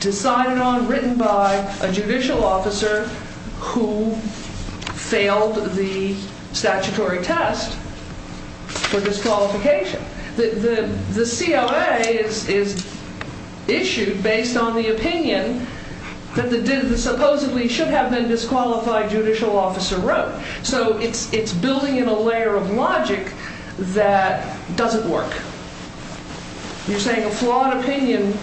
Decided on, written by, a judicial officer who failed the statutory test for disqualification. The COA is issued based on the opinion that the supposedly should have been disqualified by judicial officer wrote. So it's building in a layer of logic that doesn't work. You're saying a flawed opinion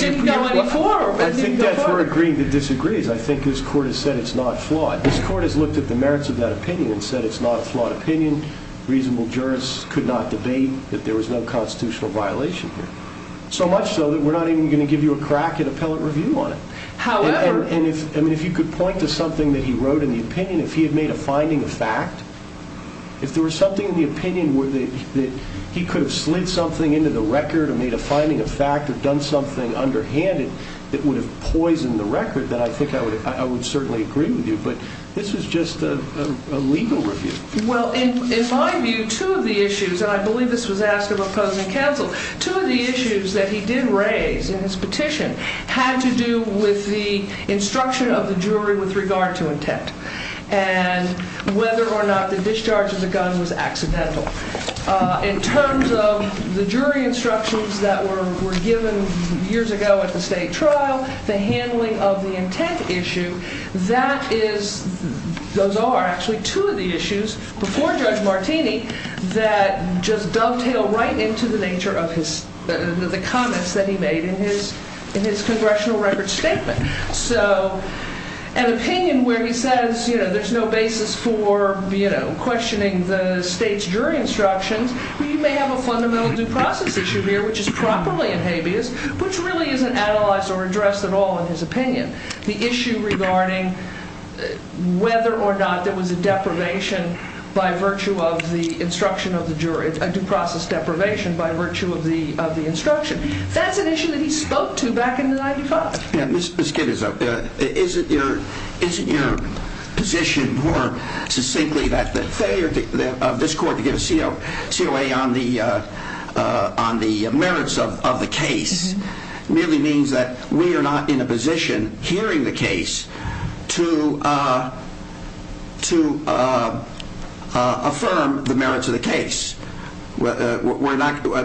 didn't go any further. I think that's where agreeing to disagree is. I think this court has said it's not flawed. This court has looked at the merits of that opinion and said it's not a flawed opinion. Reasonable jurists could not debate that there was no constitutional violation here. So much so that we're not even going to give you a crack at appellate review on it. And if you could point to something that he wrote in the opinion, if he had made a finding of fact, if there was something in the opinion where he could have slid something into the record or made a finding of fact or done something underhanded that would have poisoned the record, then I think I would certainly agree with you. But this is just a legal review. Well, in my view, two of the issues, and I believe this was asked about opposing counsel, two of the issues that he did raise in his petition had to do with the instruction of the jury with regard to intent and whether or not the discharge of the gun was accidental. In terms of the jury instructions that were given years ago at the state trial, the handling of the intent issue, those are actually two of the issues before Judge Martini that just dovetail right into the nature of the comments that he made in his congressional record statement. So an opinion where he says there's no basis for questioning the state's jury instructions, you may have a fundamental due process issue here, which is properly in habeas, which really isn't analyzed or addressed at all in his opinion. The issue regarding whether or not there was a deprivation by virtue of the instruction of the jury, a due process deprivation by virtue of the instruction, that's an issue that he spoke to back in 1995. Ms. Kidder, isn't your position more succinctly that the failure of this court to give a COA on the merits of the case merely means that we are not in a position hearing the case to affirm the merits of the case? In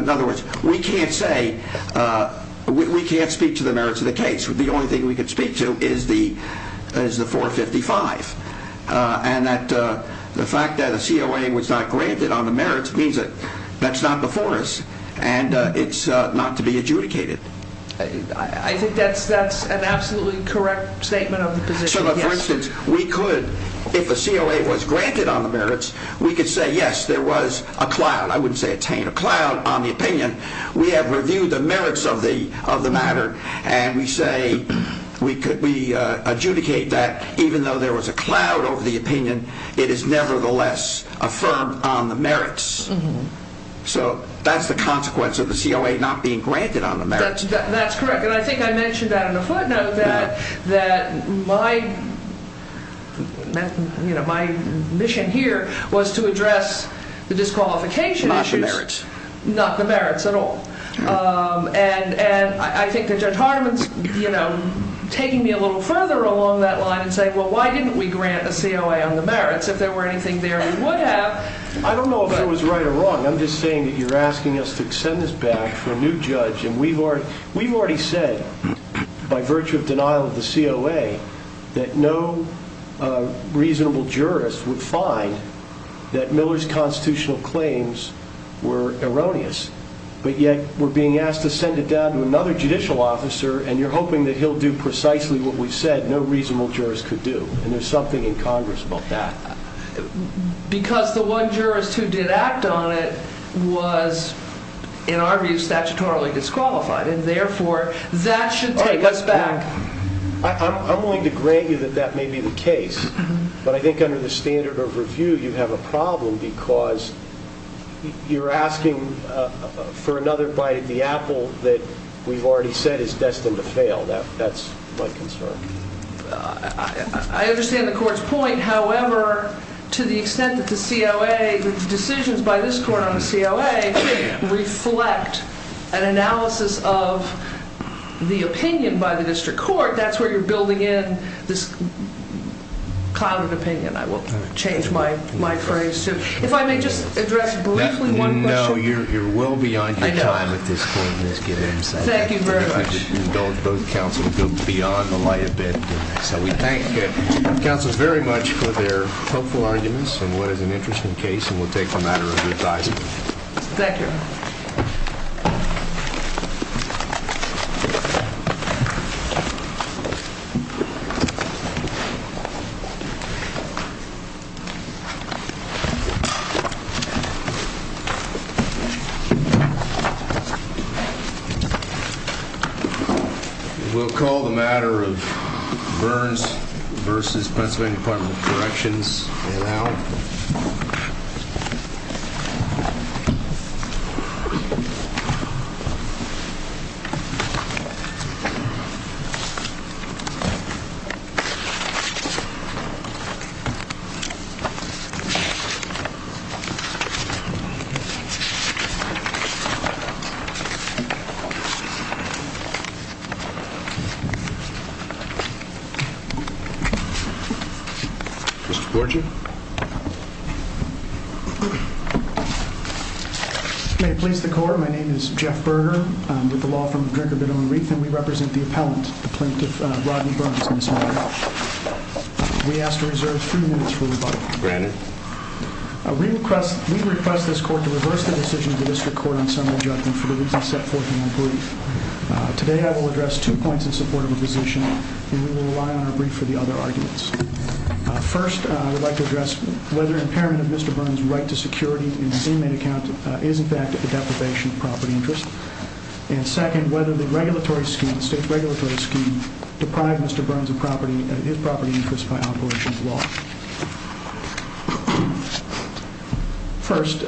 other words, we can't speak to the merits of the case. The only thing we can speak to is the 455. And the fact that a COA was not granted on the merits means that that's not before us and it's not to be adjudicated. I think that's an absolutely correct statement of the position, yes. So, for instance, we could, if a COA was granted on the merits, we could say, yes, there was a cloud. I wouldn't say attain a cloud on the opinion. We have reviewed the merits of the matter and we say we adjudicate that even though there was a cloud over the opinion, it is nevertheless affirmed on the merits. So, that's the consequence of the COA not being granted on the merits. That's correct. And I think I mentioned that in a footnote that my mission here was to address the disqualification issues. Not the merits. Not the merits at all. And I think that Judge Hartman's taking me a little further along that line and saying, well, why didn't we grant a COA on the merits if there were anything there we would have? I don't know if it was right or wrong. I'm just saying that you're asking us to send this back for a new judge. And we've already said by virtue of denial of the COA that no reasonable jurist would find that Miller's constitutional claims were erroneous. But yet we're being asked to send it down to another judicial officer and you're hoping that he'll do precisely what we said no reasonable jurist could do. And there's something in Congress about that. Because the one jurist who did act on it was, in our view, statutorily disqualified. And, therefore, that should take us back. I'm willing to grant you that that may be the case. But I think under the standard of review you have a problem because you're asking for another bite of the apple that we've already said is destined to fail. That's my concern. I understand the court's point. However, to the extent that the decisions by this court on the COA reflect an analysis of the opinion by the district court, that's where you're building in this cloud of opinion. I will change my phrase. If I may just address briefly one question. No, you're well beyond your time at this point, Ms. Giddens. Thank you very much. Both counsels go beyond the light of day. So we thank the counsels very much for their helpful arguments on what is an interesting case, and we'll take a matter of revising. Thank you. We'll call the matter of Burns v. Pennsylvania Department of Corrections now. Mr. Borgia? May it please the court, my name is Jeff Berger. I'm with the law firm of Drinker, Biddle, and Reith, and we represent the appellant, the plaintiff, Rodney Burns, in this matter. We ask to reserve three minutes for rebuttal. Granted. We request this court to reverse the decision of the district court on summary judgment for the reasons set forth in my brief. Today I will address two points in support of a position, and we will rely on our brief for the other arguments. First, I would like to address whether impairment of Mr. Burns' right to security in his inmate account is, in fact, a deprivation of property interest. And second, whether the regulatory scheme, the state's regulatory scheme, deprived Mr. Burns of his property interest by operation of law. First,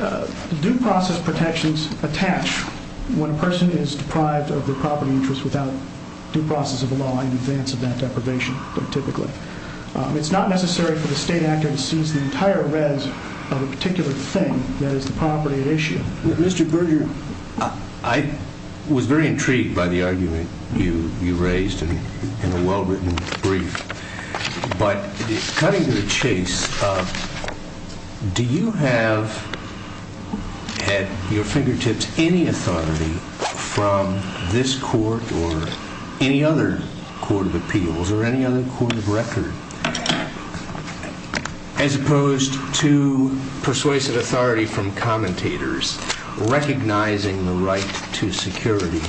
due process protections attach when a person is deprived of their property interest without due process of the law in advance of that deprivation, typically. It's not necessary for the state actor to seize the entire res of a particular thing, that is, the property at issue. Mr. Berger, I was very intrigued by the argument you raised in the well-written brief. But cutting to the chase, do you have at your fingertips any authority from this court or any other court of appeals or any other court of record, as opposed to persuasive authority from commentators recognizing the right to security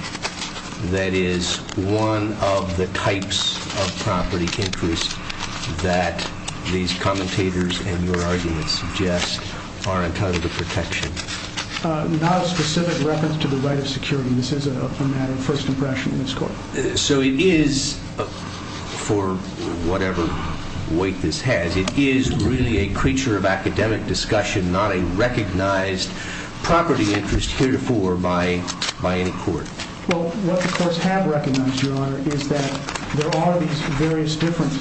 that is one of the types of property interest that these commentators and your arguments suggest are entitled to protection? Not a specific reference to the right of security. This is a matter of first impression in this court. So it is, for whatever weight this has, it is really a creature of academic discussion, not a recognized property interest heretofore by any court. Well, what the courts have recognized, Your Honor, is that there are these various different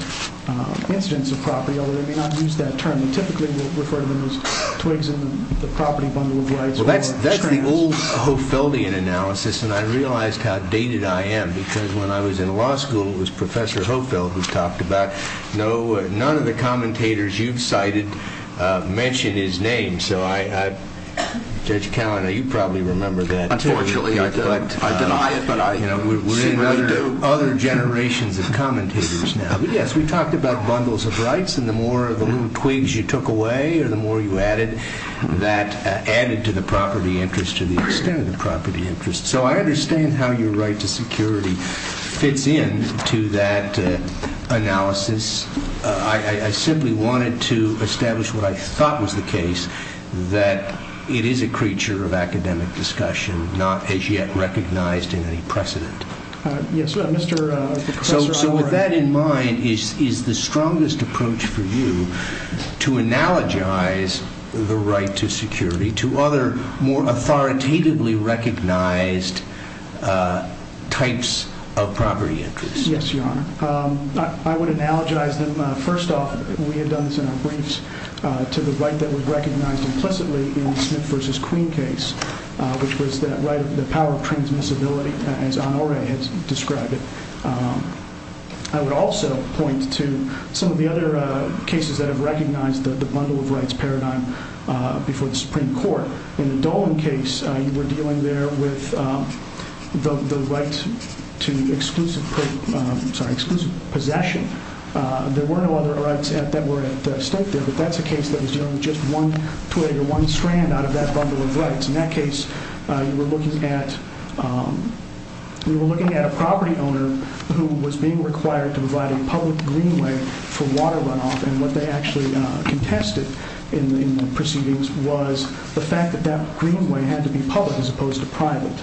incidents of property, although they may not use that term. Typically, we'll refer to them as twigs in the property bundle of lights. Well, that's the old Hofeldian analysis, and I realized how dated I am. Because when I was in law school, it was Professor Hofeld who talked about, no, none of the commentators you've cited mention his name. So, Judge Callan, you probably remember that. Unfortunately, I deny it, but I seem to remember it. We're into other generations of commentators now. Yes, we talked about bundles of rights, and the more of the little twigs you took away or the more you added, that added to the property interest to the extent of the property interest. So I understand how your right to security fits in to that analysis. I simply wanted to establish what I thought was the case, that it is a creature of academic discussion, not as yet recognized in any precedent. So with that in mind, is the strongest approach for you to analogize the right to security to other more authoritatively recognized types of property interests? Yes, Your Honor. I would analogize them, first off, we had done this in our briefs, to the right that was recognized implicitly in the Smith v. Queen case, which was the right of the power of transmissibility, as Honoré has described it. I would also point to some of the other cases that have recognized the bundle of rights paradigm before the Supreme Court. In the Dolan case, you were dealing there with the right to exclusive possession. There were no other rights that were at stake there, but that's a case that was dealing with just one twig or one strand out of that bundle of rights. In that case, you were looking at a property owner who was being required to provide a public greenway for water runoff, and what they actually contested in the proceedings was the fact that that greenway had to be public as opposed to private.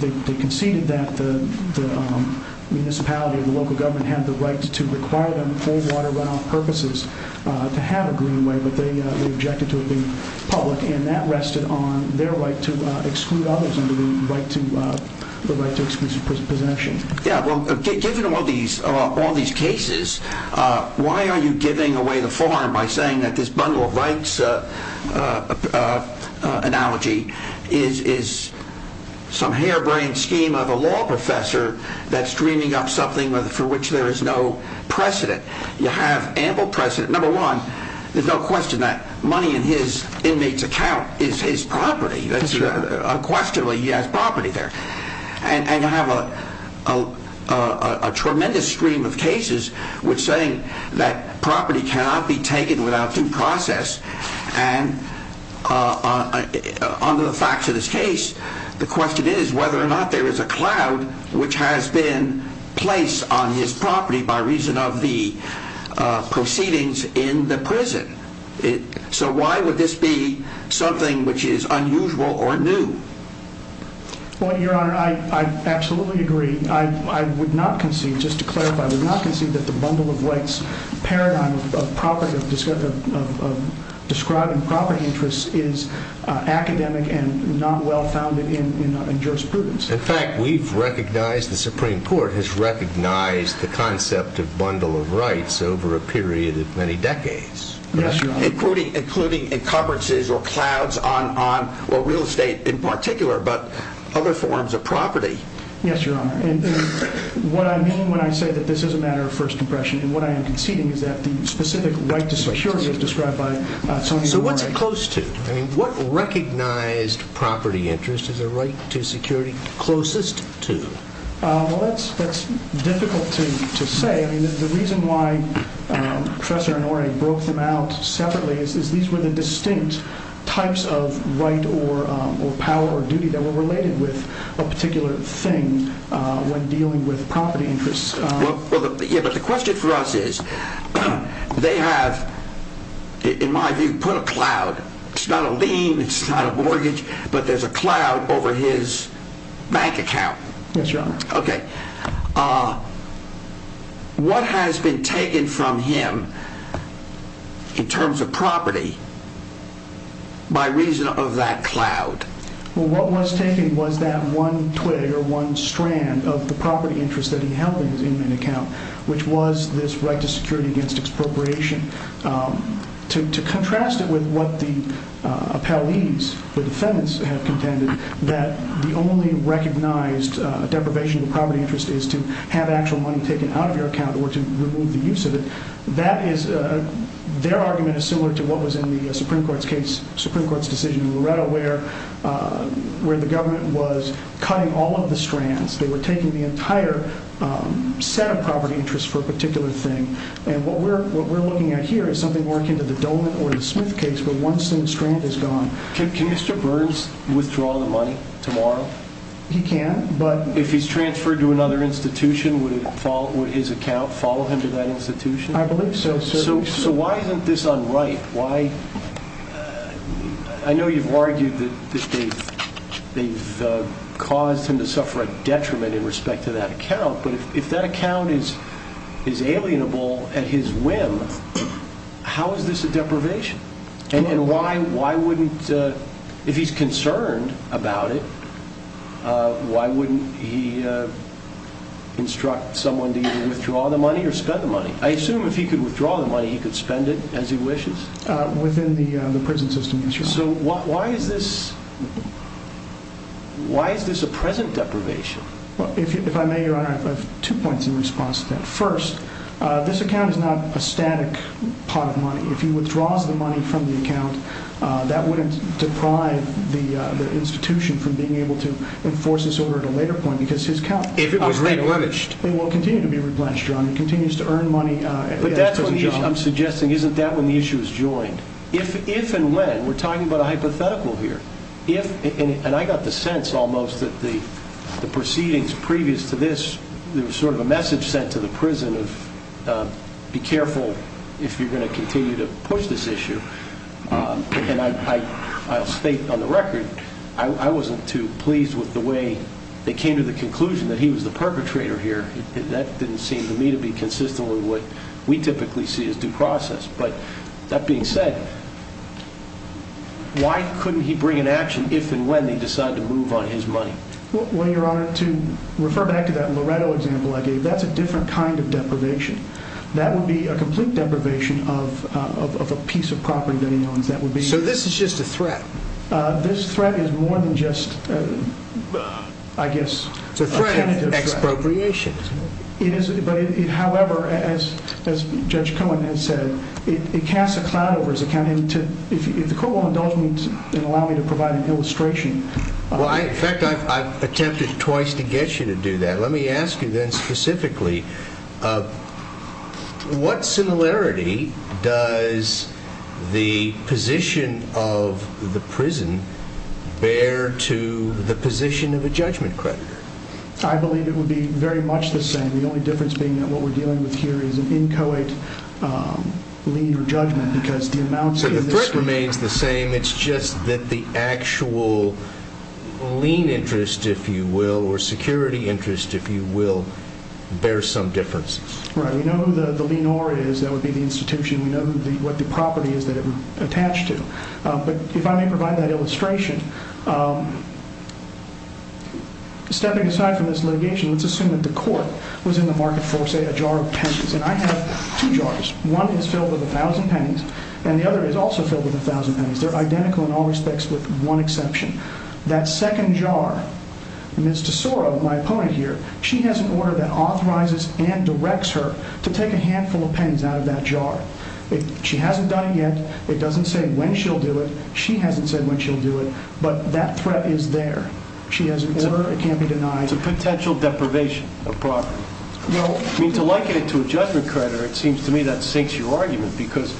They conceded that the municipality or the local government had the right to require them for water runoff purposes to have a greenway, but they objected to it being public, and that rested on their right to exclude others under the right to exclusive possession. Yeah, well, given all these cases, why are you giving away the farm by saying that this bundle of rights analogy is some harebrained scheme of a law professor that's dreaming up something for which there is no precedent? You have ample precedent. Number one, there's no question that money in his inmate's account is his property. Unquestionably, he has property there, and you have a tremendous stream of cases which say that property cannot be taken without due process, and under the facts of this case, the question is whether or not there is a cloud which has been placed on his property by reason of the proceedings in the prison. So why would this be something which is unusual or new? Your Honor, I absolutely agree. I would not concede, just to clarify, I would not concede that the bundle of rights paradigm of property, of describing property interests is academic and not well-founded in jurisprudence. In fact, we've recognized, the Supreme Court has recognized the concept of bundle of rights over a period of many decades. Yes, Your Honor. Including encumbrances or clouds on real estate in particular, but other forms of property. Yes, Your Honor. And what I mean when I say that this is a matter of first impression, and what I am conceding is that the specific right to security is described by Sotomayor. So what's it close to? I mean, what recognized property interest is a right to security closest to? Well, that's difficult to say. I mean, the reason why Professor Inouye broke them out separately is these were the distinct types of right or power or duty that were related with a particular thing when dealing with property interests. Yeah, but the question for us is, they have, in my view, put a cloud. It's not a lien, it's not a mortgage, but there's a cloud over his bank account. Yes, Your Honor. Okay. What has been taken from him in terms of property by reason of that cloud? Well, what was taken was that one twig or one strand of the property interest that he held in his inmate account, which was this right to security against expropriation. To contrast it with what the appellees, the defendants, have contended, that the only recognized deprivation of property interest is to have actual money taken out of your account or to remove the use of it, their argument is similar to what was in the Supreme Court's decision in Loretta where the government was cutting all of the strands. They were taking the entire set of property interest for a particular thing. And what we're looking at here is something more akin to the Dolan or the Smith case where one single strand is gone. Can Mr. Burns withdraw the money tomorrow? He can, but... I believe so, sir. So why isn't this unright? I know you've argued that they've caused him to suffer a detriment in respect to that account, but if that account is alienable at his whim, how is this a deprivation? And why wouldn't, if he's concerned about it, why wouldn't he instruct someone to either withdraw the money or spend the money? I assume if he could withdraw the money, he could spend it as he wishes? Within the prison system, yes, Your Honor. So why is this a present deprivation? If I may, Your Honor, I have two points in response to that. First, this account is not a static pot of money. If he withdraws the money from the account, that wouldn't deprive the institution from being able to enforce this order at a later point because his account... If it was replenished. It will continue to be replenished, Your Honor. It continues to earn money. But that's what I'm suggesting. Isn't that when the issue is joined? If and when. We're talking about a hypothetical here. If, and I got the sense almost that the proceedings previous to this, there was sort of a message sent to the prison of be careful if you're going to continue to push this issue. And I state on the record, I wasn't too pleased with the way they came to the conclusion that he was the perpetrator here. That didn't seem to me to be consistent with what we typically see as due process. But that being said, why couldn't he bring an action if and when they decide to move on his money? Well, Your Honor, to refer back to that Loretto example I gave, that's a different kind of deprivation. That would be a complete deprivation of a piece of property that he owns. So this is just a threat? This threat is more than just, I guess... It's a threat of expropriation. However, as Judge Cohen has said, it casts a cloud over his account. If the court will indulge me and allow me to provide an illustration... In fact, I've attempted twice to get you to do that. Let me ask you then specifically, what similarity does the position of the prison bear to the position of a judgment creditor? I believe it would be very much the same. The only difference being that what we're dealing with here is an inchoate lien or judgment. So the threat remains the same. It's just that the actual lien interest, if you will, or security interest, if you will, bears some differences. Right. We know who the lien or is. That would be the institution. We know what the property is that it's attached to. But if I may provide that illustration... Stepping aside from this litigation, let's assume that the court was in the market for, say, a jar of pencils. And I have two jars. One is filled with 1,000 pennies, and the other is also filled with 1,000 pennies. They're identical in all respects with one exception. That second jar, Ms. Tesoro, my opponent here, she has an order that authorizes and directs her to take a handful of pens out of that jar. She hasn't done it yet. It doesn't say when she'll do it. She hasn't said when she'll do it. But that threat is there. She has an order. It can't be denied. It's a potential deprivation of property. To liken it to a judgment creditor, it seems to me that sinks your argument. Because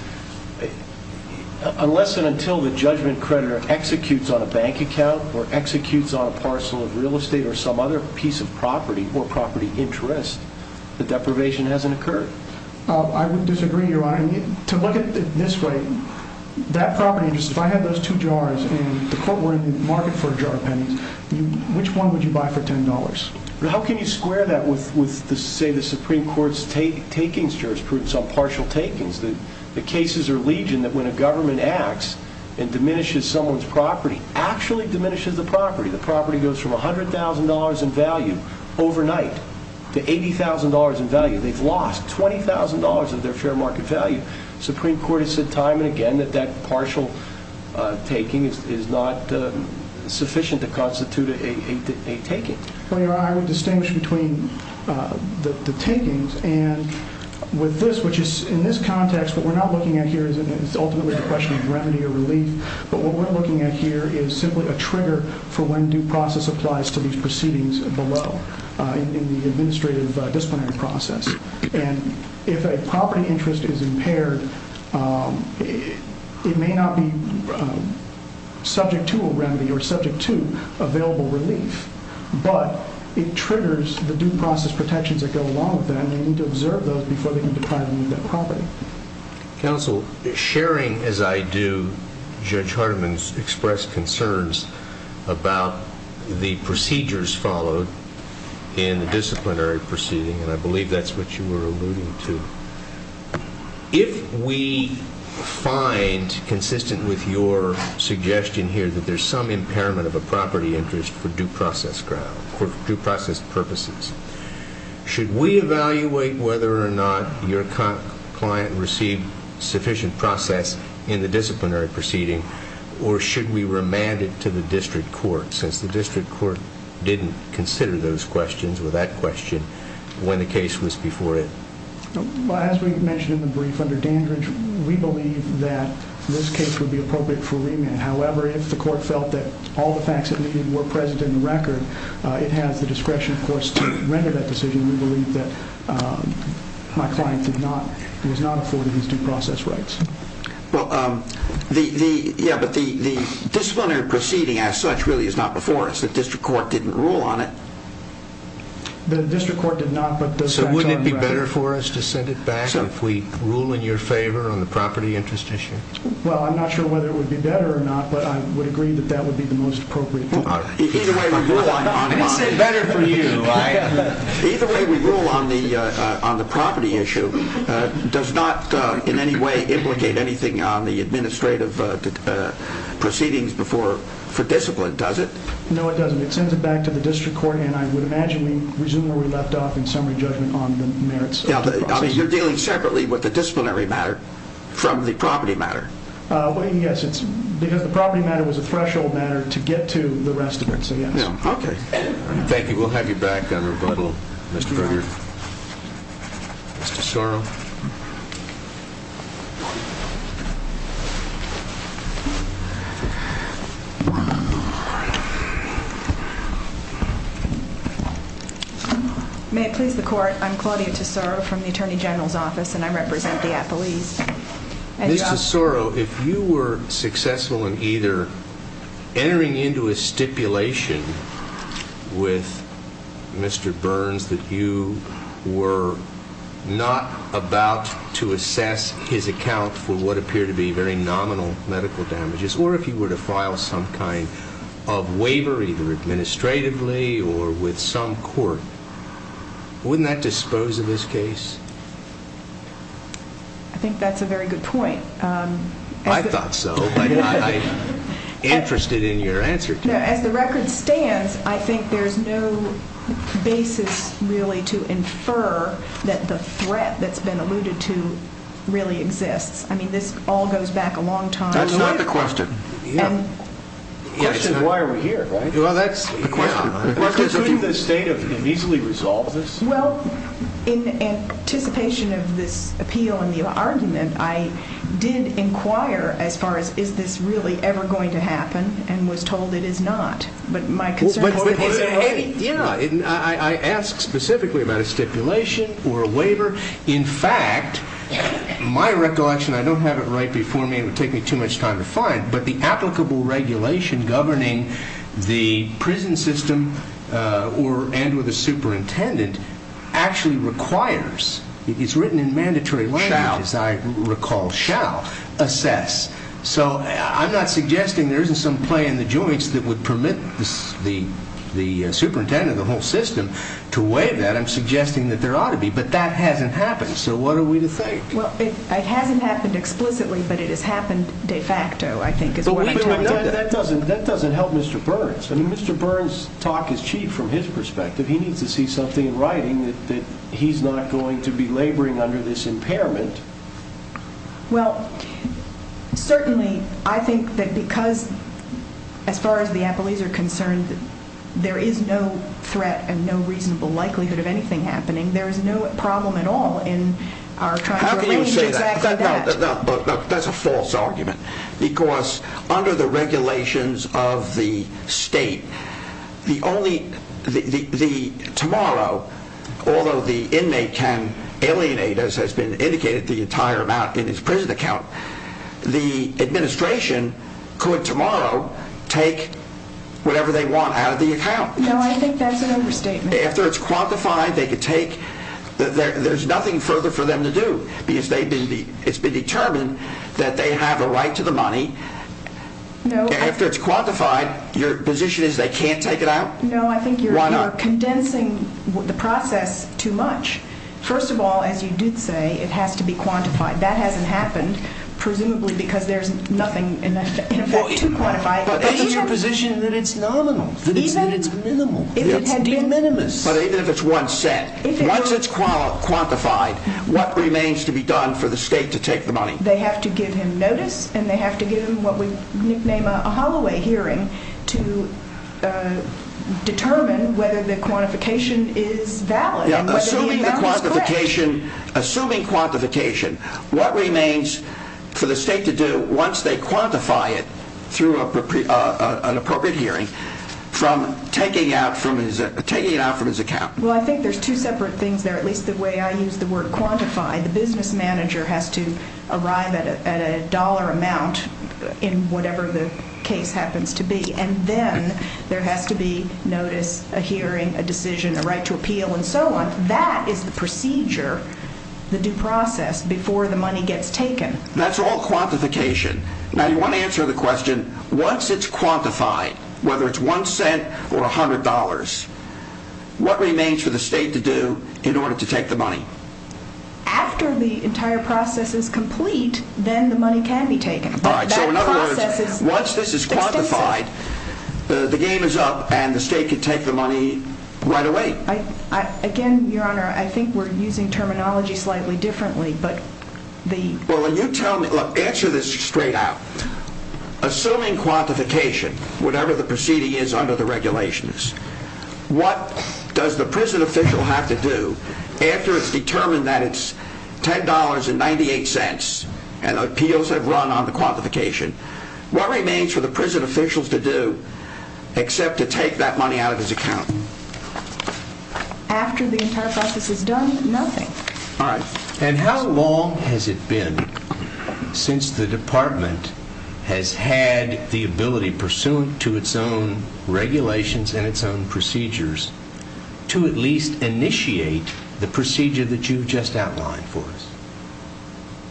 unless and until the judgment creditor executes on a bank account or executes on a parcel of real estate or some other piece of property or property interest, the deprivation hasn't occurred. I would disagree, Your Honor. To look at it this way, that property interest, if I had those two jars and the court were in the market for a jar of pennies, which one would you buy for $10? How can you square that with, say, the Supreme Court's takings, jurisprudence on partial takings? The cases are legion that when a government acts and diminishes someone's property, actually diminishes the property. The property goes from $100,000 in value overnight to $80,000 in value. They've lost $20,000 of their fair market value. The Supreme Court has said time and again that that partial taking is not sufficient to constitute a taking. Well, Your Honor, I would distinguish between the takings and with this, which is in this context, what we're not looking at here is ultimately the question of remedy or relief. But what we're looking at here is simply a trigger for when due process applies to these proceedings below in the administrative disciplinary process. And if a property interest is impaired, it may not be subject to a remedy or subject to available relief, but it triggers the due process protections that go along with that. And they need to observe those before they can deprive you of that property. Counsel, sharing as I do Judge Hardiman's expressed concerns about the procedures followed in the disciplinary proceeding, and I believe that's what you were alluding to. If we find consistent with your suggestion here that there's some impairment of a property interest for due process grounds, for due process purposes, should we evaluate whether or not your client received sufficient process in the disciplinary proceeding, or should we remand it to the district court, since the district court didn't consider those questions or that question when the case was before it? Well, as we mentioned in the brief, under Dandridge, we believe that this case would be appropriate for remand. However, if the court felt that all the facts that needed were present in the record, it has the discretion, of course, to render that decision. We believe that my client was not afforded these due process rights. Well, yeah, but the disciplinary proceeding as such really is not before us. The district court didn't rule on it. The district court did not, but the facts are in the record. So wouldn't it be better for us to send it back if we rule in your favor on the property interest issue? Well, I'm not sure whether it would be better or not, but I would agree that that would be the most appropriate. Either way we rule on the property issue does not in any way implicate anything on the administrative proceedings for discipline, does it? No, it doesn't. It sends it back to the district court, and I would imagine we resume where we left off in summary judgment on the merits of the process. So you're dealing separately with the disciplinary matter from the property matter? Yes, because the property matter was a threshold matter to get to the rest of it. Thank you. We'll have you back on rebuttal, Mr. Berger. Ms. Tesoro? Ms. Tesoro, if you were successful in either entering into a stipulation with Mr. Burns that you were not aware of the fact that Mr. Burns was a member of the district court, about to assess his account for what appear to be very nominal medical damages, or if he were to file some kind of waiver, either administratively or with some court, wouldn't that dispose of his case? I think that's a very good point. I thought so, but I'm interested in your answer. As the record stands, I think there's no basis, really, to infer that the threat that's been alluded to really exists. I mean, this all goes back a long time. That's not the question. The question is why are we here, right? Well, that's the question. Well, in anticipation of this appeal and the argument, I did inquire as far as is this really ever going to happen and was told it is not. I asked specifically about a stipulation or a waiver. In fact, my recollection, I don't have it right before me, it would take me too much time to find, but the applicable regulation governing the prison system and with a superintendent actually requires, it's written in mandatory language, as I recall, shall assess. So I'm not suggesting there isn't some play in the joints that would permit the superintendent of the whole system to waive that. I'm suggesting that there ought to be, but that hasn't happened, so what are we to think? Well, it hasn't happened explicitly, but it has happened de facto, I think, is what I tell you. That doesn't help Mr. Burns. I mean, Mr. Burns' talk is cheap from his perspective. He needs to see something in writing that he's not going to be laboring under this impairment. Well, certainly I think that because as far as the appellees are concerned, there is no threat and no reasonable likelihood of anything happening. There is no problem at all in our trying to arrange exactly that. But that's a false argument because under the regulations of the state, tomorrow, although the inmate can alienate, as has been indicated, the entire amount in his prison account, the administration could tomorrow take whatever they want out of the account. No, I think that's an overstatement. After it's quantified, there's nothing further for them to do because it's been determined that they have a right to the money. After it's quantified, your position is they can't take it out? No, I think you're condensing the process too much. First of all, as you did say, it has to be quantified. That hasn't happened, presumably because there's nothing in effect to quantify it. But if it's your position that it's nominal, that it's minimal, it's de minimis. But even if it's one cent, once it's quantified, what remains to be done for the state to take the money? They have to give him notice and they have to give him what we nickname a holloway hearing to determine whether the quantification is valid. Assuming quantification, what remains for the state to do once they quantify it through an appropriate hearing from taking it out from his account? Well, I think there's two separate things there, at least the way I use the word quantify. The business manager has to arrive at a dollar amount in whatever the case happens to be. And then there has to be notice, a hearing, a decision, a right to appeal, and so on. That is the procedure, the due process, before the money gets taken. That's all quantification. Now, you want to answer the question, once it's quantified, whether it's one cent or $100, what remains for the state to do in order to take the money? After the entire process is complete, then the money can be taken. So in other words, once this is quantified, the game is up and the state can take the money right away. Again, Your Honor, I think we're using terminology slightly differently. Answer this straight out. Assuming quantification, whatever the proceeding is under the regulations, what does the prison official have to do after it's determined that it's $10.98 and appeals have run on the quantification? What remains for the prison officials to do except to take that money out of his account? After the entire process is done, nothing. All right. And how long has it been since the Department has had the ability, pursuant to its own regulations and its own procedures, to at least initiate the procedure that you've just outlined for us?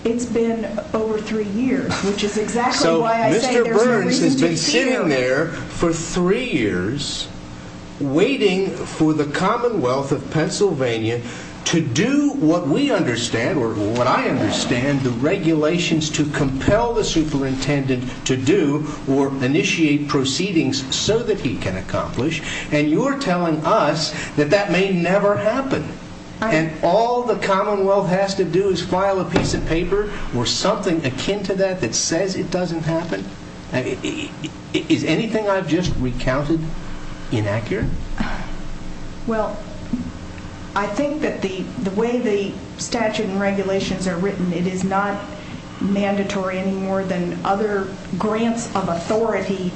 It's been over three years, which is exactly why I say there's no reason to be scared. So Mr. Burns has been sitting there for three years waiting for the Commonwealth of Pennsylvania to do what we understand, or what I understand, the regulations to compel the superintendent to do or initiate proceedings so that he can accomplish, and you're telling us that that may never happen. And all the Commonwealth has to do is file a piece of paper or something akin to that that says it doesn't happen? Is anything I've just recounted inaccurate? Well, I think that the way the statute and regulations are written, it is not mandatory anymore than other grants of authority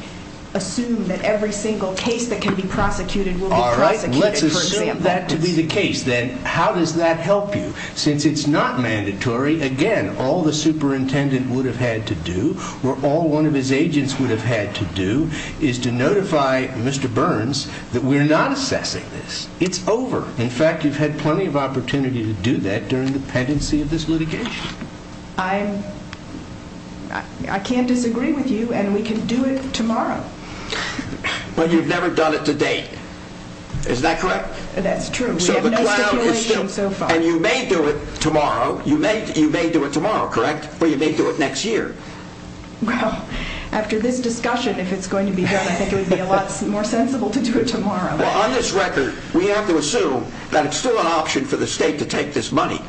assume that every single case that can be prosecuted will be prosecuted. Let's assume that to be the case, then how does that help you? Since it's not mandatory, again, all the superintendent would have had to do, or all one of his agents would have had to do, is to notify Mr. Burns that we're not assessing this. It's over. In fact, you've had plenty of opportunity to do that during the pendency of this litigation. I can't disagree with you, and we can do it tomorrow. But you've never done it to date, is that correct? That's true. We have no stipulation so far. And you may do it tomorrow, you may do it tomorrow, correct? Or you may do it next year? Well, after this discussion, if it's going to be done, I think it would be a lot more sensible to do it tomorrow. Well, on this record, we have to assume that it's still an option for the state to take this money.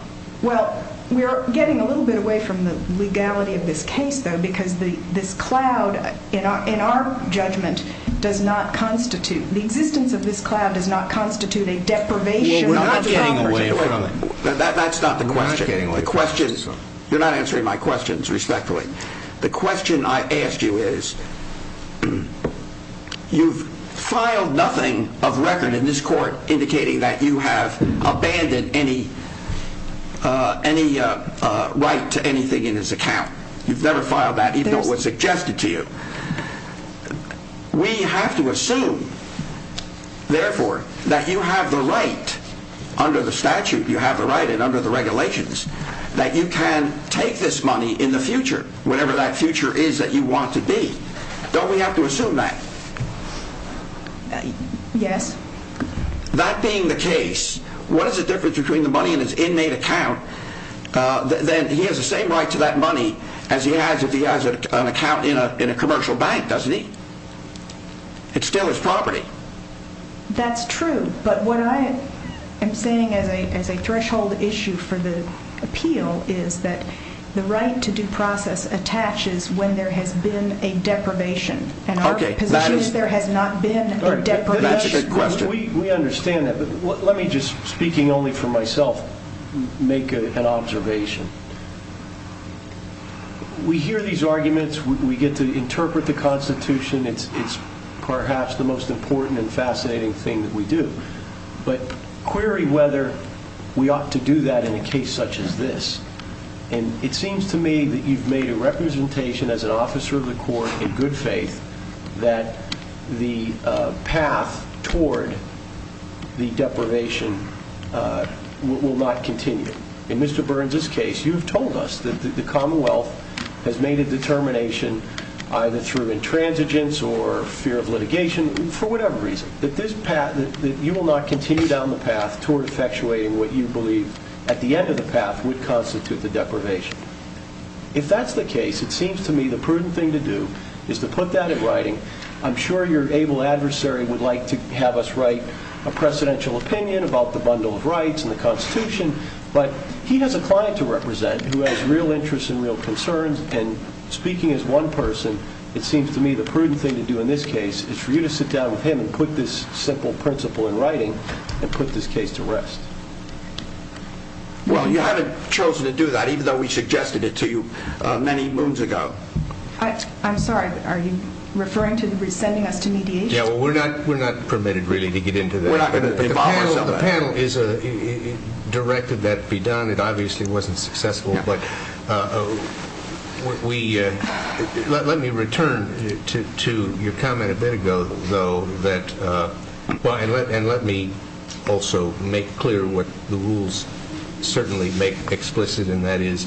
Well, we're getting a little bit away from the legality of this case, though, because this cloud, in our judgment, does not constitute, the existence of this cloud does not constitute a deprivation of power. Well, we're not getting away from it. That's not the question. You're not answering my questions respectfully. The question I asked you is, you've filed nothing of record in this court indicating that you have abandoned any right to anything in this account. You've never filed that, even though it was suggested to you. We have to assume, therefore, that you have the right, under the statute you have the right and under the regulations, that you can take this money in the future, whatever that future is that you want to be. Don't we have to assume that? Yes. That being the case, what is the difference between the money in his inmate account? He has the same right to that money as he has if he has an account in a commercial bank, doesn't he? It's still his property. That's true, but what I am saying as a threshold issue for the appeal is that the right to due process attaches when there has been a deprivation. And our position is there has not been a deprivation. We understand that, but let me just, speaking only for myself, make an observation. We hear these arguments, we get to interpret the Constitution, it's perhaps the most important and fascinating thing that we do. But query whether we ought to do that in a case such as this. And it seems to me that you've made a representation as an officer of the court in good faith that the path toward the deprivation will not continue. In Mr. Burns' case, you've told us that the Commonwealth has made a determination, either through intransigence or fear of litigation, for whatever reason, that you will not continue down the path toward effectuating what you believe, at the end of the path, would constitute the deprivation. If that's the case, it seems to me the prudent thing to do is to put that in writing. I'm sure your able adversary would like to have us write a precedential opinion about the bundle of rights and the Constitution, but he has a client to represent who has real interests and real concerns, and speaking as one person, it seems to me the prudent thing to do in this case is for you to sit down with him and put this simple principle in writing and put this case to rest. Well, you haven't chosen to do that, even though we suggested it to you many moons ago. I'm sorry, are you referring to sending us to mediation? Yeah, well, we're not permitted, really, to get into that. Well, the panel is directed that it be done. It obviously wasn't successful, but let me return to your comment a bit ago, though, and let me also make clear what the rules certainly make explicit, and that is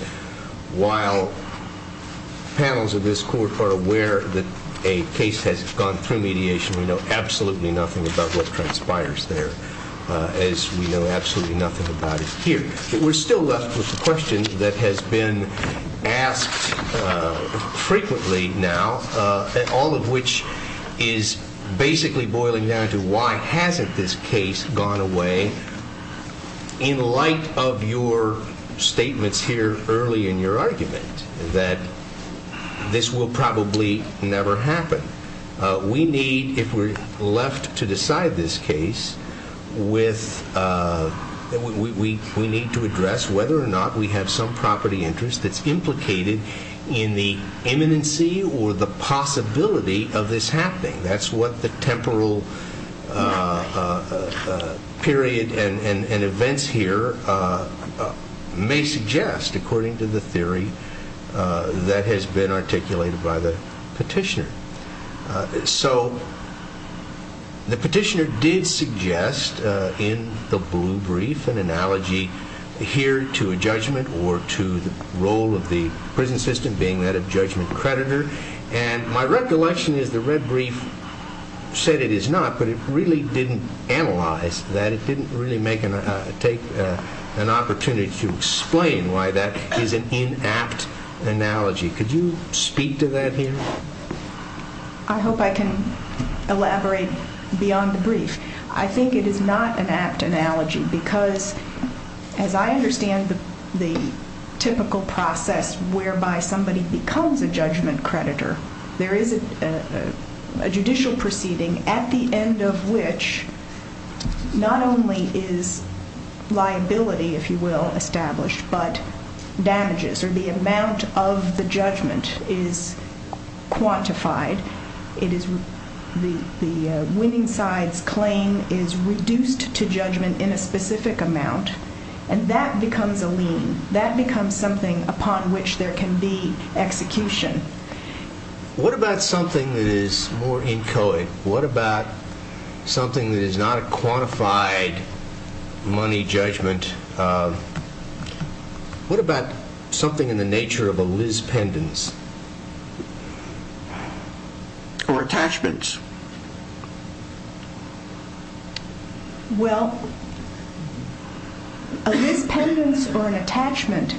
while panels of this court are aware that a case has gone through mediation, we know absolutely nothing about what transpires there, as we know absolutely nothing about it here. We're still left with a question that has been asked frequently now, all of which is basically boiling down to why hasn't this case gone away, in light of your statements here early in your argument that this will probably never happen. We need, if we're left to decide this case, we need to address whether or not we have some property interest that's implicated in the imminency or the possibility of this happening. That's what the temporal period and events here may suggest, according to the theory that has been articulated by the petitioner. So the petitioner did suggest in the blue brief an analogy here to a judgment or to the role of the prison system being that of judgment creditor, and my recollection is the red brief said it is not, but it really didn't analyze that. It didn't really take an opportunity to explain why that is an inapt analogy. Could you speak to that here? I hope I can elaborate beyond the brief. I think it is not an apt analogy because, as I understand the typical process whereby somebody becomes a judgment creditor, there is a judicial proceeding at the end of which not only is liability, if you will, established, but damages or the amount of the judgment is quantified. The winning side's claim is reduced to judgment in a specific amount, and that becomes a lien. That becomes something upon which there can be execution. What about something that is more inchoate? What about something that is not a quantified money judgment? What about something in the nature of a Liz pendants or attachments? Well, a Liz pendants or an attachment,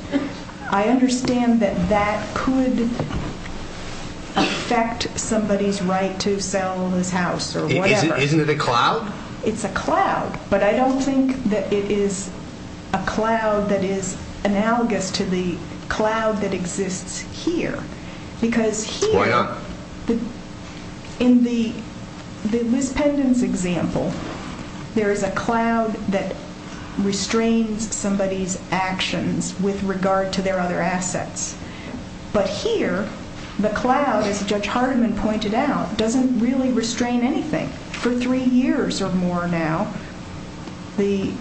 I understand that that could affect somebody's right to sell his house or whatever. Isn't it a cloud? It's a cloud, but I don't think that it is a cloud that is analogous to the cloud that exists here. Why not? In the Liz pendants example, there is a cloud that restrains somebody's actions with regard to their other assets. But here, the cloud, as Judge Hardiman pointed out, doesn't really restrain anything. For three years or more now, the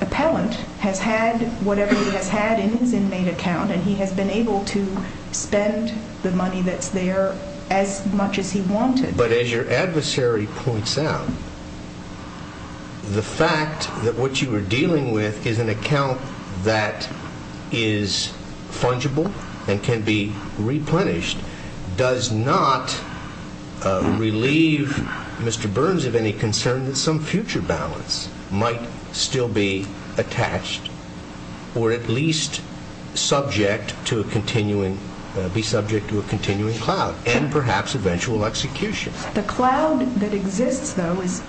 appellant has had whatever he has had in his inmate account, and he has been able to spend the money that's there as much as he wanted. But as your adversary points out, the fact that what you are dealing with is an account that is fungible and can be replenished does not relieve Mr. Burns of any concern that some future balance might still be attached or at least be subject to a continuing cloud and perhaps eventual execution. The cloud that exists, though, is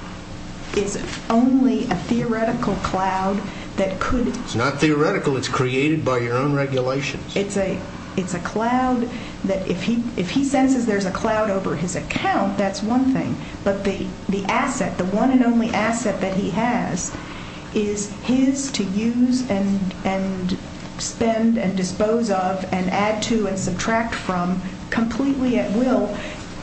only a theoretical cloud that could... It's not theoretical. It's created by your own regulations. It's a cloud that, if he senses there's a cloud over his account, that's one thing. But the asset, the one and only asset that he has, is his to use and spend and dispose of and add to and subtract from completely at will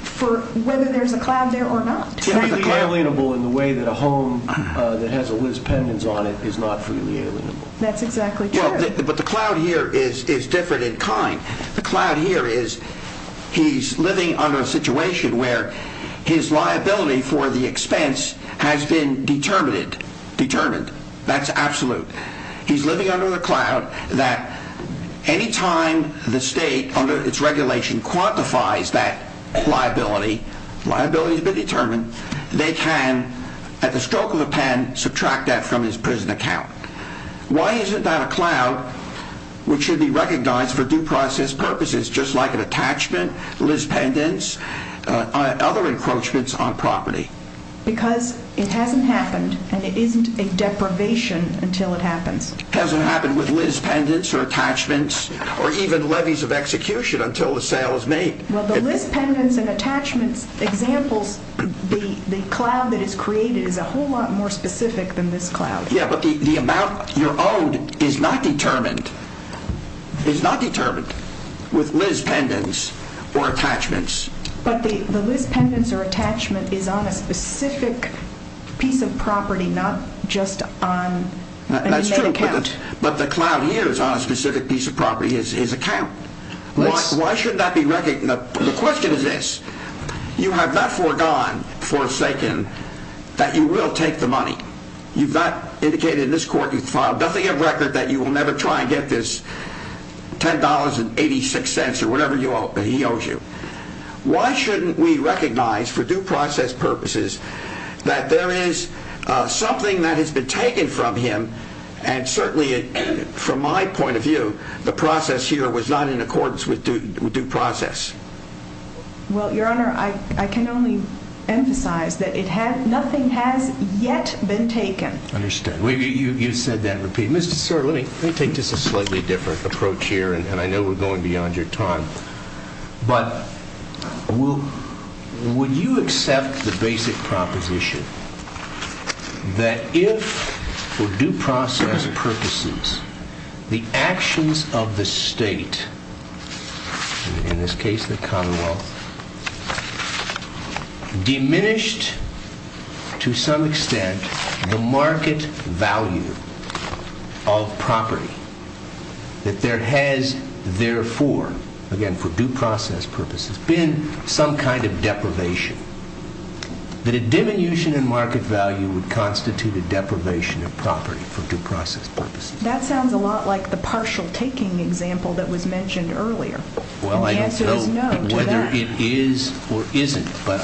for whether there's a cloud there or not. It's freely alienable in the way that a home that has a Liz pendants on it is not freely alienable. That's exactly true. But the cloud here is different in kind. The cloud here is he's living under a situation where his liability for the expense has been determined. That's absolute. He's living under the cloud that any time the state, under its regulation, quantifies that liability, liability has been determined, they can, at the stroke of a pen, subtract that from his prison account. Why isn't that a cloud which should be recognized for due process purposes, just like an attachment, Liz pendants, other encroachments on property? Because it hasn't happened and it isn't a deprivation until it happens. It hasn't happened with Liz pendants or attachments or even levies of execution until the sale is made. Well, the Liz pendants and attachments examples, the cloud that is created is a whole lot more specific than this cloud. Yeah, but the amount you're owed is not determined, is not determined with Liz pendants or attachments. But the Liz pendants or attachment is on a specific piece of property, not just on an inmate account. That's true, but the cloud here is on a specific piece of property, his account. Why should that be recognized? The question is this, you have not foregone, forsaken, that you will take the money. You've not indicated in this court, you've filed nothing of record that you will never try and get this $10.86 or whatever he owes you. Why shouldn't we recognize for due process purposes that there is something that has been taken from him and certainly from my point of view, the process here was not in accordance with due process. Well, Your Honor, I can only emphasize that nothing has yet been taken. I understand. You said that repeatedly. Mr. Sir, let me take just a slightly different approach here, and I know we're going beyond your time, but would you accept the basic proposition that if for due process purposes, the actions of the state, in this case the commonwealth, diminished to some extent the market value of property, that there has therefore, again for due process purposes, been some kind of deprivation, that a diminution in market value would constitute a deprivation of property for due process purposes? That sounds a lot like the partial taking example that was mentioned earlier. Well, I don't know whether it is or isn't, but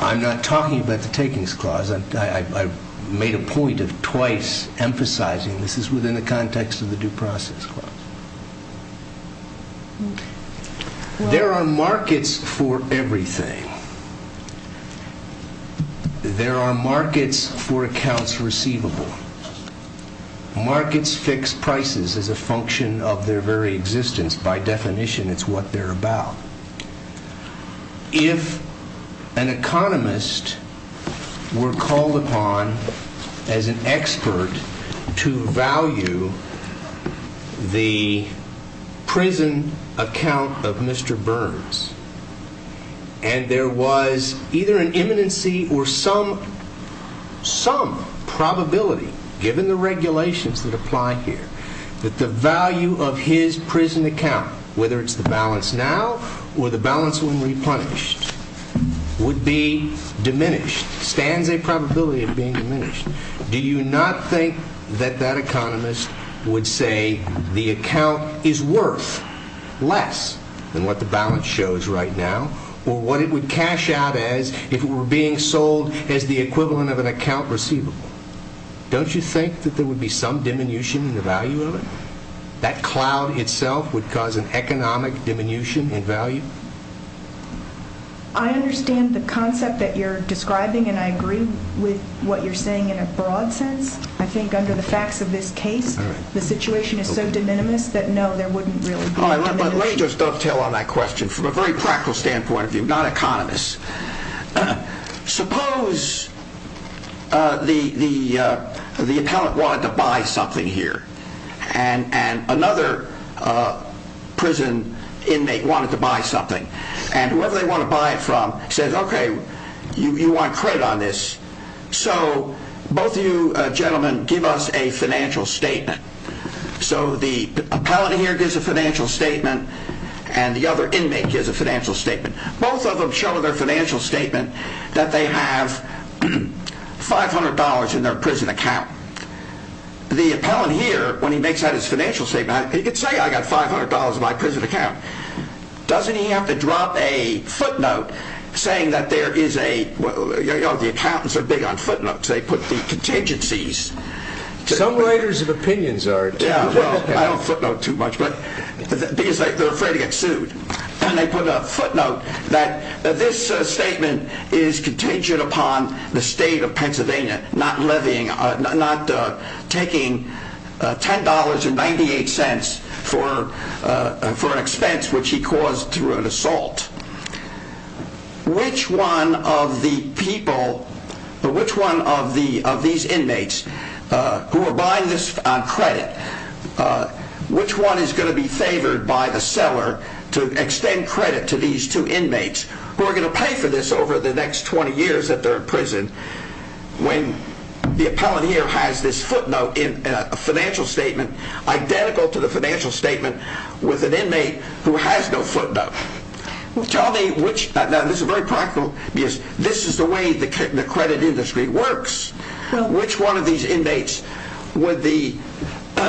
I'm not talking about the takings clause. I made a point of twice emphasizing this is within the context of the due process clause. There are markets for everything. There are markets for accounts receivable. Markets fix prices as a function of their very existence. By definition, it's what they're about. If an economist were called upon as an expert to value the prison account of Mr. Burns, and there was either an imminency or some probability, given the regulations that apply here, that the value of his prison account, whether it's the balance now or the balance when replenished, would be diminished, stands a probability of being diminished, do you not think that that economist would say the account is worth less than what the balance shows right now, or what it would cash out as if it were being sold as the equivalent of an account receivable? Don't you think that there would be some diminution in the value of it? That cloud itself would cause an economic diminution in value? I understand the concept that you're describing, and I agree with what you're saying in a broad sense. I think under the facts of this case, the situation is so de minimis that no, there wouldn't really be a de minimis. Let me just dovetail on that question from a very practical standpoint of view, not economist. Suppose the appellant wanted to buy something here, and another prison inmate wanted to buy something, and whoever they want to buy it from says, okay, you want credit on this, so both of you gentlemen give us a financial statement. So the appellant here gives a financial statement, and the other inmate gives a financial statement. Both of them show in their financial statement that they have $500 in their prison account. The appellant here, when he makes out his financial statement, he could say, I got $500 in my prison account. Doesn't he have to drop a footnote saying that there is a, the accountants are big on footnotes. They put the contingencies. Some writers of opinions are. Yeah, well, I don't footnote too much, because they're afraid to get sued. And they put a footnote that this statement is contingent upon the state of Pennsylvania not levying, not taking $10.98 for an expense which he caused through an assault. Which one of the people, which one of these inmates who are buying this on credit, which one is going to be favored by the seller to extend credit to these two inmates who are going to pay for this over the next 20 years that they're in prison when the appellant here has this footnote in a financial statement identical to the financial statement with an inmate who has no footnote. Tell me which, now this is very practical, because this is the way the credit industry works. Which one of these inmates would the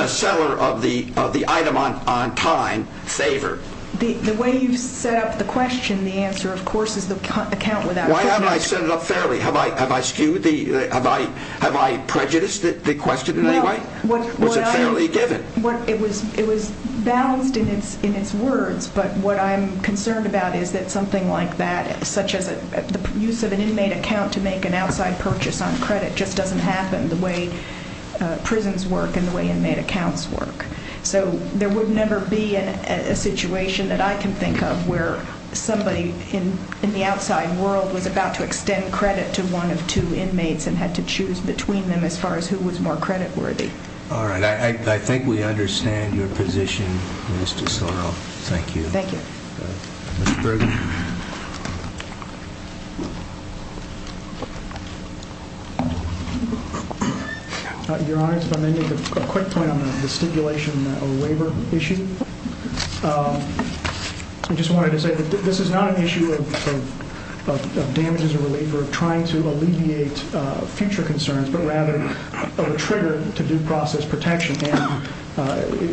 seller of the item on time favor? The way you've set up the question, the answer, of course, is the account without footnotes. Why haven't I set it up fairly? Have I skewed the, have I prejudiced the question in any way? Was it fairly given? It was balanced in its words, but what I'm concerned about is that something like that, such as the use of an inmate account to make an outside purchase on credit, just doesn't happen the way prisons work and the way inmate accounts work. So there would never be a situation that I can think of where somebody in the outside world was about to extend credit to one of two inmates and had to choose between them as far as who was more credit worthy. All right, I think we understand your position, Minister Soro. Thank you. Thank you. Mr. Bergen. Your Honor, if I may make a quick point on the stipulation waiver issue. I just wanted to say that this is not an issue of damages or reliever, of trying to alleviate future concerns, but rather of a trigger to due process protection. And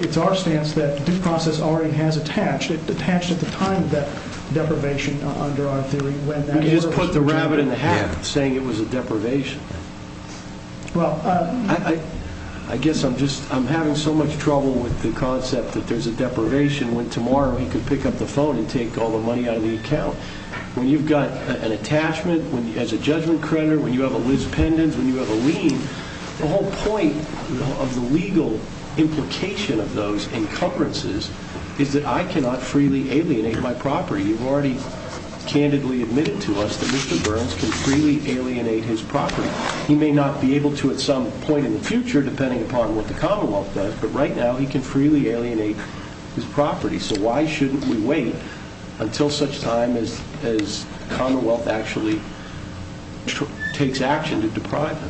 it's our stance that due process already has attached. It attached at the time of that deprivation under our theory. You just put the rabbit in the hat saying it was a deprivation. Well, I guess I'm having so much trouble with the concept that there's a deprivation when tomorrow he can pick up the phone and take all the money out of the account. When you've got an attachment as a judgment creditor, when you have a Liz Pendens, when you have a lien, the whole point of the legal implication of those encumbrances is that I cannot freely alienate my property. You've already candidly admitted to us that Mr. Burns can freely alienate his property. He may not be able to at some point in the future, depending upon what the Commonwealth does, but right now he can freely alienate his property. So why shouldn't we wait until such time as the Commonwealth actually takes action to deprive him?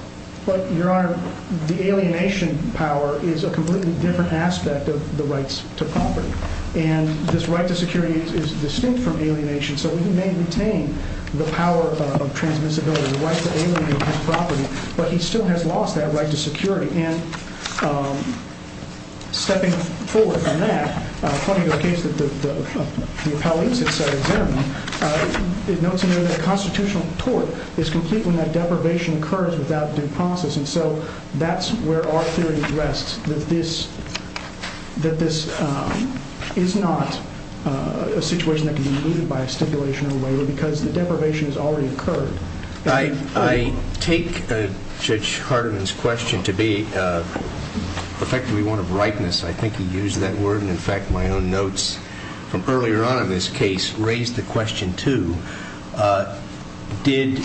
Your Honor, the alienation power is a completely different aspect of the rights to property. And this right to security is distinct from alienation. So he may retain the power of transmissibility, the right to alienate his property, but he still has lost that right to security. And stepping forward from that, according to the case that the appellate has set examine, it notes in there that a constitutional tort is complete when that deprivation occurs without due process. And so that's where our theory rests, that this is not a situation that can be eluded by a stipulation of a waiver because the deprivation has already occurred. I take Judge Hardiman's question to be effectively one of rightness. I think he used that word. In fact, my own notes from earlier on in this case raised the question, too. Did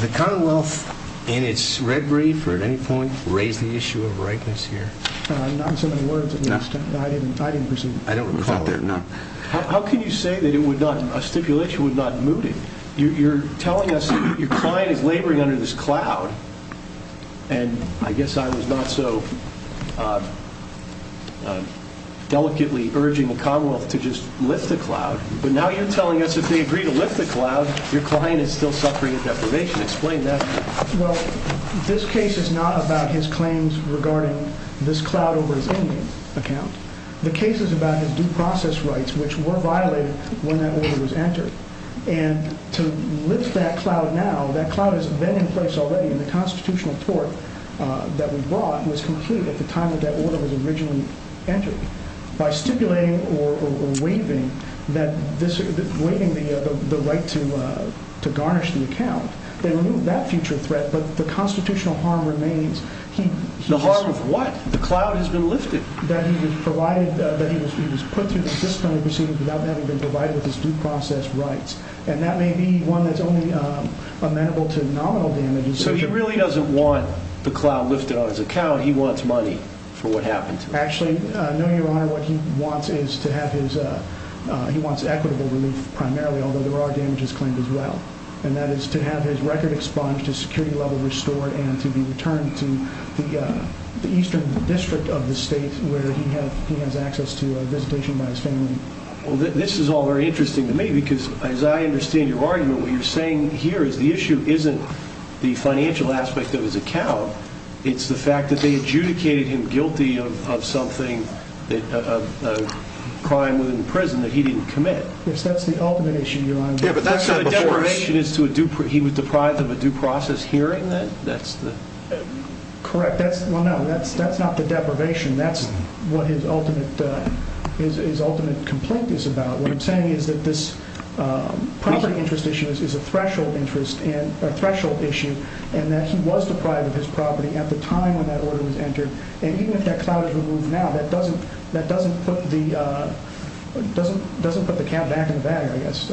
the Commonwealth in its red brief or at any point raise the issue of rightness here? Not in so many words, at least. I didn't perceive it. I don't recall it. How can you say that a stipulation would not moot it? You're telling us your client is laboring under this cloud, and I guess I was not so delicately urging the Commonwealth to just lift the cloud, but now you're telling us if they agree to lift the cloud, your client is still suffering a deprivation. Explain that. Well, this case is not about his claims regarding this cloud over his inmate account. The case is about his due process rights, which were violated when that order was entered. And to lift that cloud now, that cloud has been in place already in the constitutional court that we brought. It was complete at the time that that order was originally entered. By stipulating or waiving the right to garnish the account, they removed that future threat, but the constitutional harm remains. The harm of what? The cloud has been lifted. That he was put through the disciplinary proceedings without having been provided with his due process rights, and that may be one that's only amenable to nominal damages. So he really doesn't want the cloud lifted on his account. He wants money for what happened to him. Actually, no, Your Honor. What he wants is to have his—he wants equitable relief primarily, although there are damages claimed as well, and that is to have his record expunged, his security level restored, and to be returned to the eastern district of the state where he has access to a visitation by his family. Well, this is all very interesting to me because, as I understand your argument, what you're saying here is the issue isn't the financial aspect of his account. It's the fact that they adjudicated him guilty of something, a crime within prison that he didn't commit. Yes, that's the ultimate issue, Your Honor. Yeah, but that's not before he was deprived of a due process hearing then? Correct. Well, no, that's not the deprivation. That's what his ultimate complaint is about. What I'm saying is that this property interest issue is a threshold issue, and that he was deprived of his property at the time when that order was entered, and even if that cloud is removed now, that doesn't put the count back in the bag, I guess.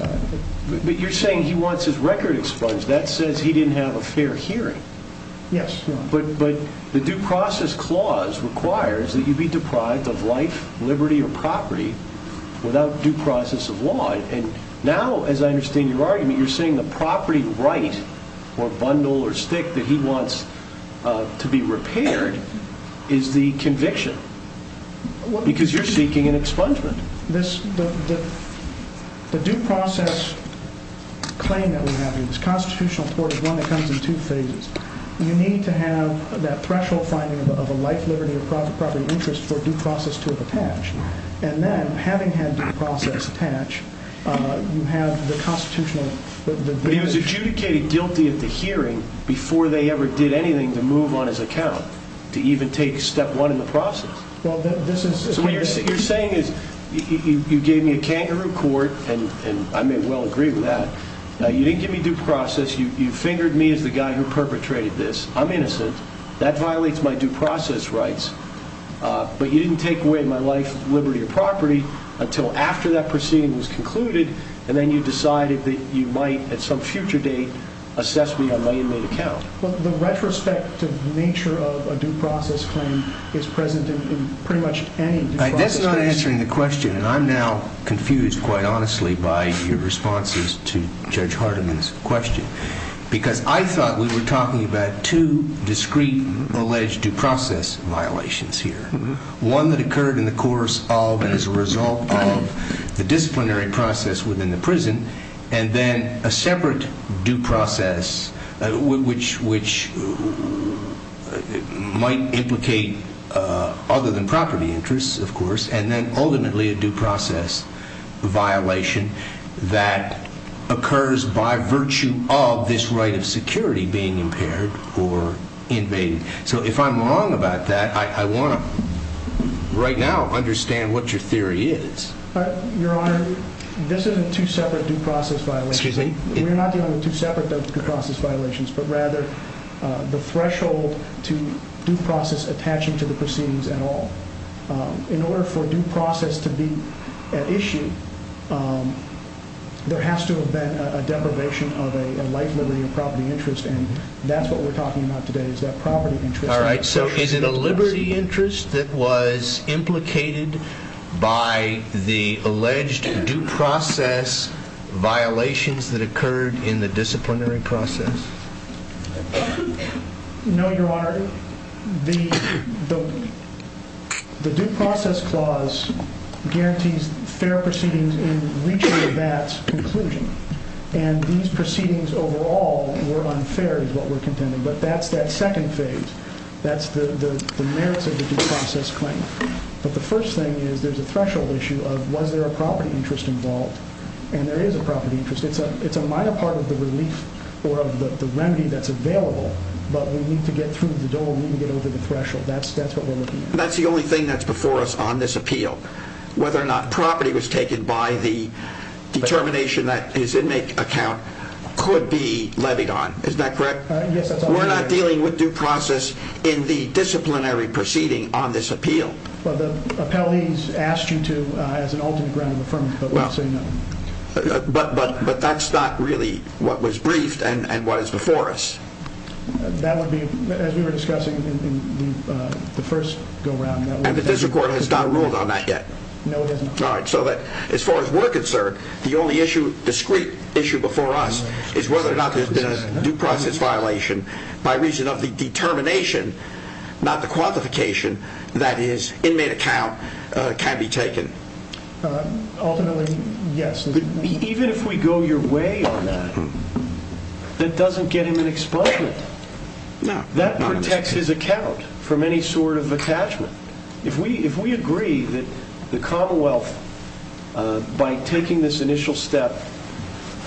But you're saying he wants his record expunged. That says he didn't have a fair hearing. Yes, Your Honor. But the due process clause requires that you be deprived of life, liberty, or property without due process of law, and now, as I understand your argument, you're saying the property right or bundle or stick that he wants to be repaired is the conviction because you're seeking an expungement. The due process claim that we have in this constitutional court is one that comes in two phases. You need to have that threshold finding of a life, liberty, or property interest for due process to have attached, and then, having had due process attached, you have the constitutional. But he was adjudicated guilty at the hearing before they ever did anything to move on his account, to even take step one in the process. So what you're saying is you gave me a kangaroo court, and I may well agree with that. You didn't give me due process. You fingered me as the guy who perpetrated this. I'm innocent. That violates my due process rights. But you didn't take away my life, liberty, or property until after that proceeding was concluded, and then you decided that you might, at some future date, assess me on my inmate account. Well, the retrospective nature of a due process claim is present in pretty much any due process case. That's not answering the question, and I'm now confused, quite honestly, by your responses to Judge Hardiman's question because I thought we were talking about two discrete alleged due process violations here, one that occurred in the course of and as a result of the disciplinary process within the prison, and then a separate due process which might implicate other than property interests, of course, and then ultimately a due process violation that occurs by virtue of this right of security being impaired or invaded. So if I'm wrong about that, I want to right now understand what your theory is. Your Honor, this isn't two separate due process violations. We're not dealing with two separate due process violations, but rather the threshold to due process attaching to the proceedings at all. In order for due process to be at issue, there has to have been a deprivation of a life, liberty, or property interest, and that's what we're talking about today is that property interest. All right, so is it a liberty interest that was implicated by the alleged due process violations that occurred in the disciplinary process? No, Your Honor. The due process clause guarantees fair proceedings in reaching the bat's conclusion, and these proceedings overall were unfair is what we're contending, but that's that second phase. That's the merits of the due process claim, but the first thing is there's a threshold issue of was there a property interest involved, and there is a property interest. It's a minor part of the relief or of the remedy that's available, but we need to get through the door. We need to get over the threshold. That's what we're looking at. That's the only thing that's before us on this appeal, whether or not property was taken by the determination that his inmate account could be levied on. Is that correct? Yes, that's all correct. We're not dealing with due process in the disciplinary proceeding on this appeal. Well, the appellees asked you to as an ultimate ground of affirmative, but we're saying no. But that's not really what was briefed and what is before us. And the district court has not ruled on that yet. No, it hasn't. All right. So as far as we're concerned, the only issue, discrete issue before us is whether or not there's been a due process violation by reason of the determination, not the qualification, that his inmate account can be taken. Ultimately, yes. Even if we go your way on that, that doesn't get him an expungement. That protects his account from any sort of attachment. If we agree that the Commonwealth, by taking this initial step,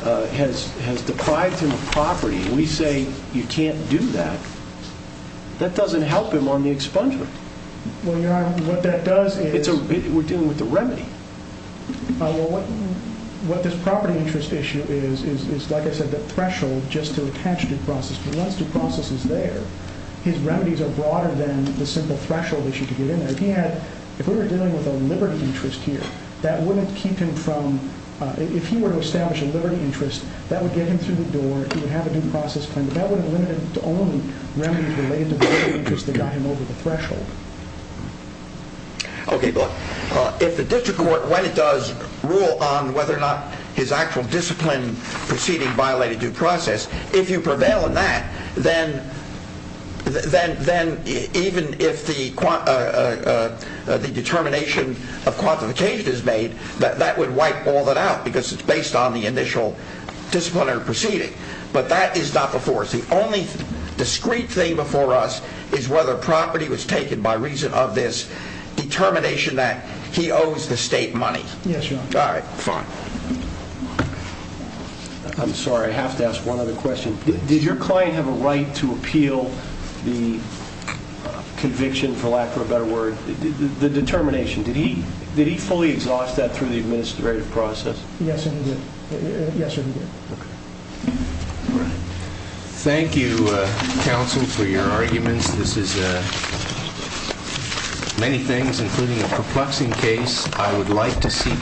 has deprived him of property and we say you can't do that, that doesn't help him on the expungement. Well, what that does is We're dealing with the remedy. Well, what this property interest issue is, is like I said, the threshold just to attach due process. He wants due processes there. His remedies are broader than the simple threshold issue to get in there. If we were dealing with a liberty interest here, that wouldn't keep him from, if he were to establish a liberty interest, that would get him through the door. He would have a due process claim. That would have limited it to only remedies related to the liberty interest that got him over the threshold. Okay, look. If the district court, when it does, rule on whether or not his actual discipline proceeding violated due process, if you prevail on that, then even if the determination of quantification is made, that would wipe all that out, because it's based on the initial discipline or proceeding. But that is not before us. The only discreet thing before us is whether property was taken by reason of this determination that he owes the state money. Yes, your honor. Alright, fine. I'm sorry, I have to ask one other question. Did your client have a right to appeal the conviction, for lack of a better word, the determination? Did he fully exhaust that through the administrative process? Yes, sir, he did. Yes, sir, he did. Okay. Alright. Thank you, counsel, for your arguments. This is many things, including a perplexing case. I would like to seek...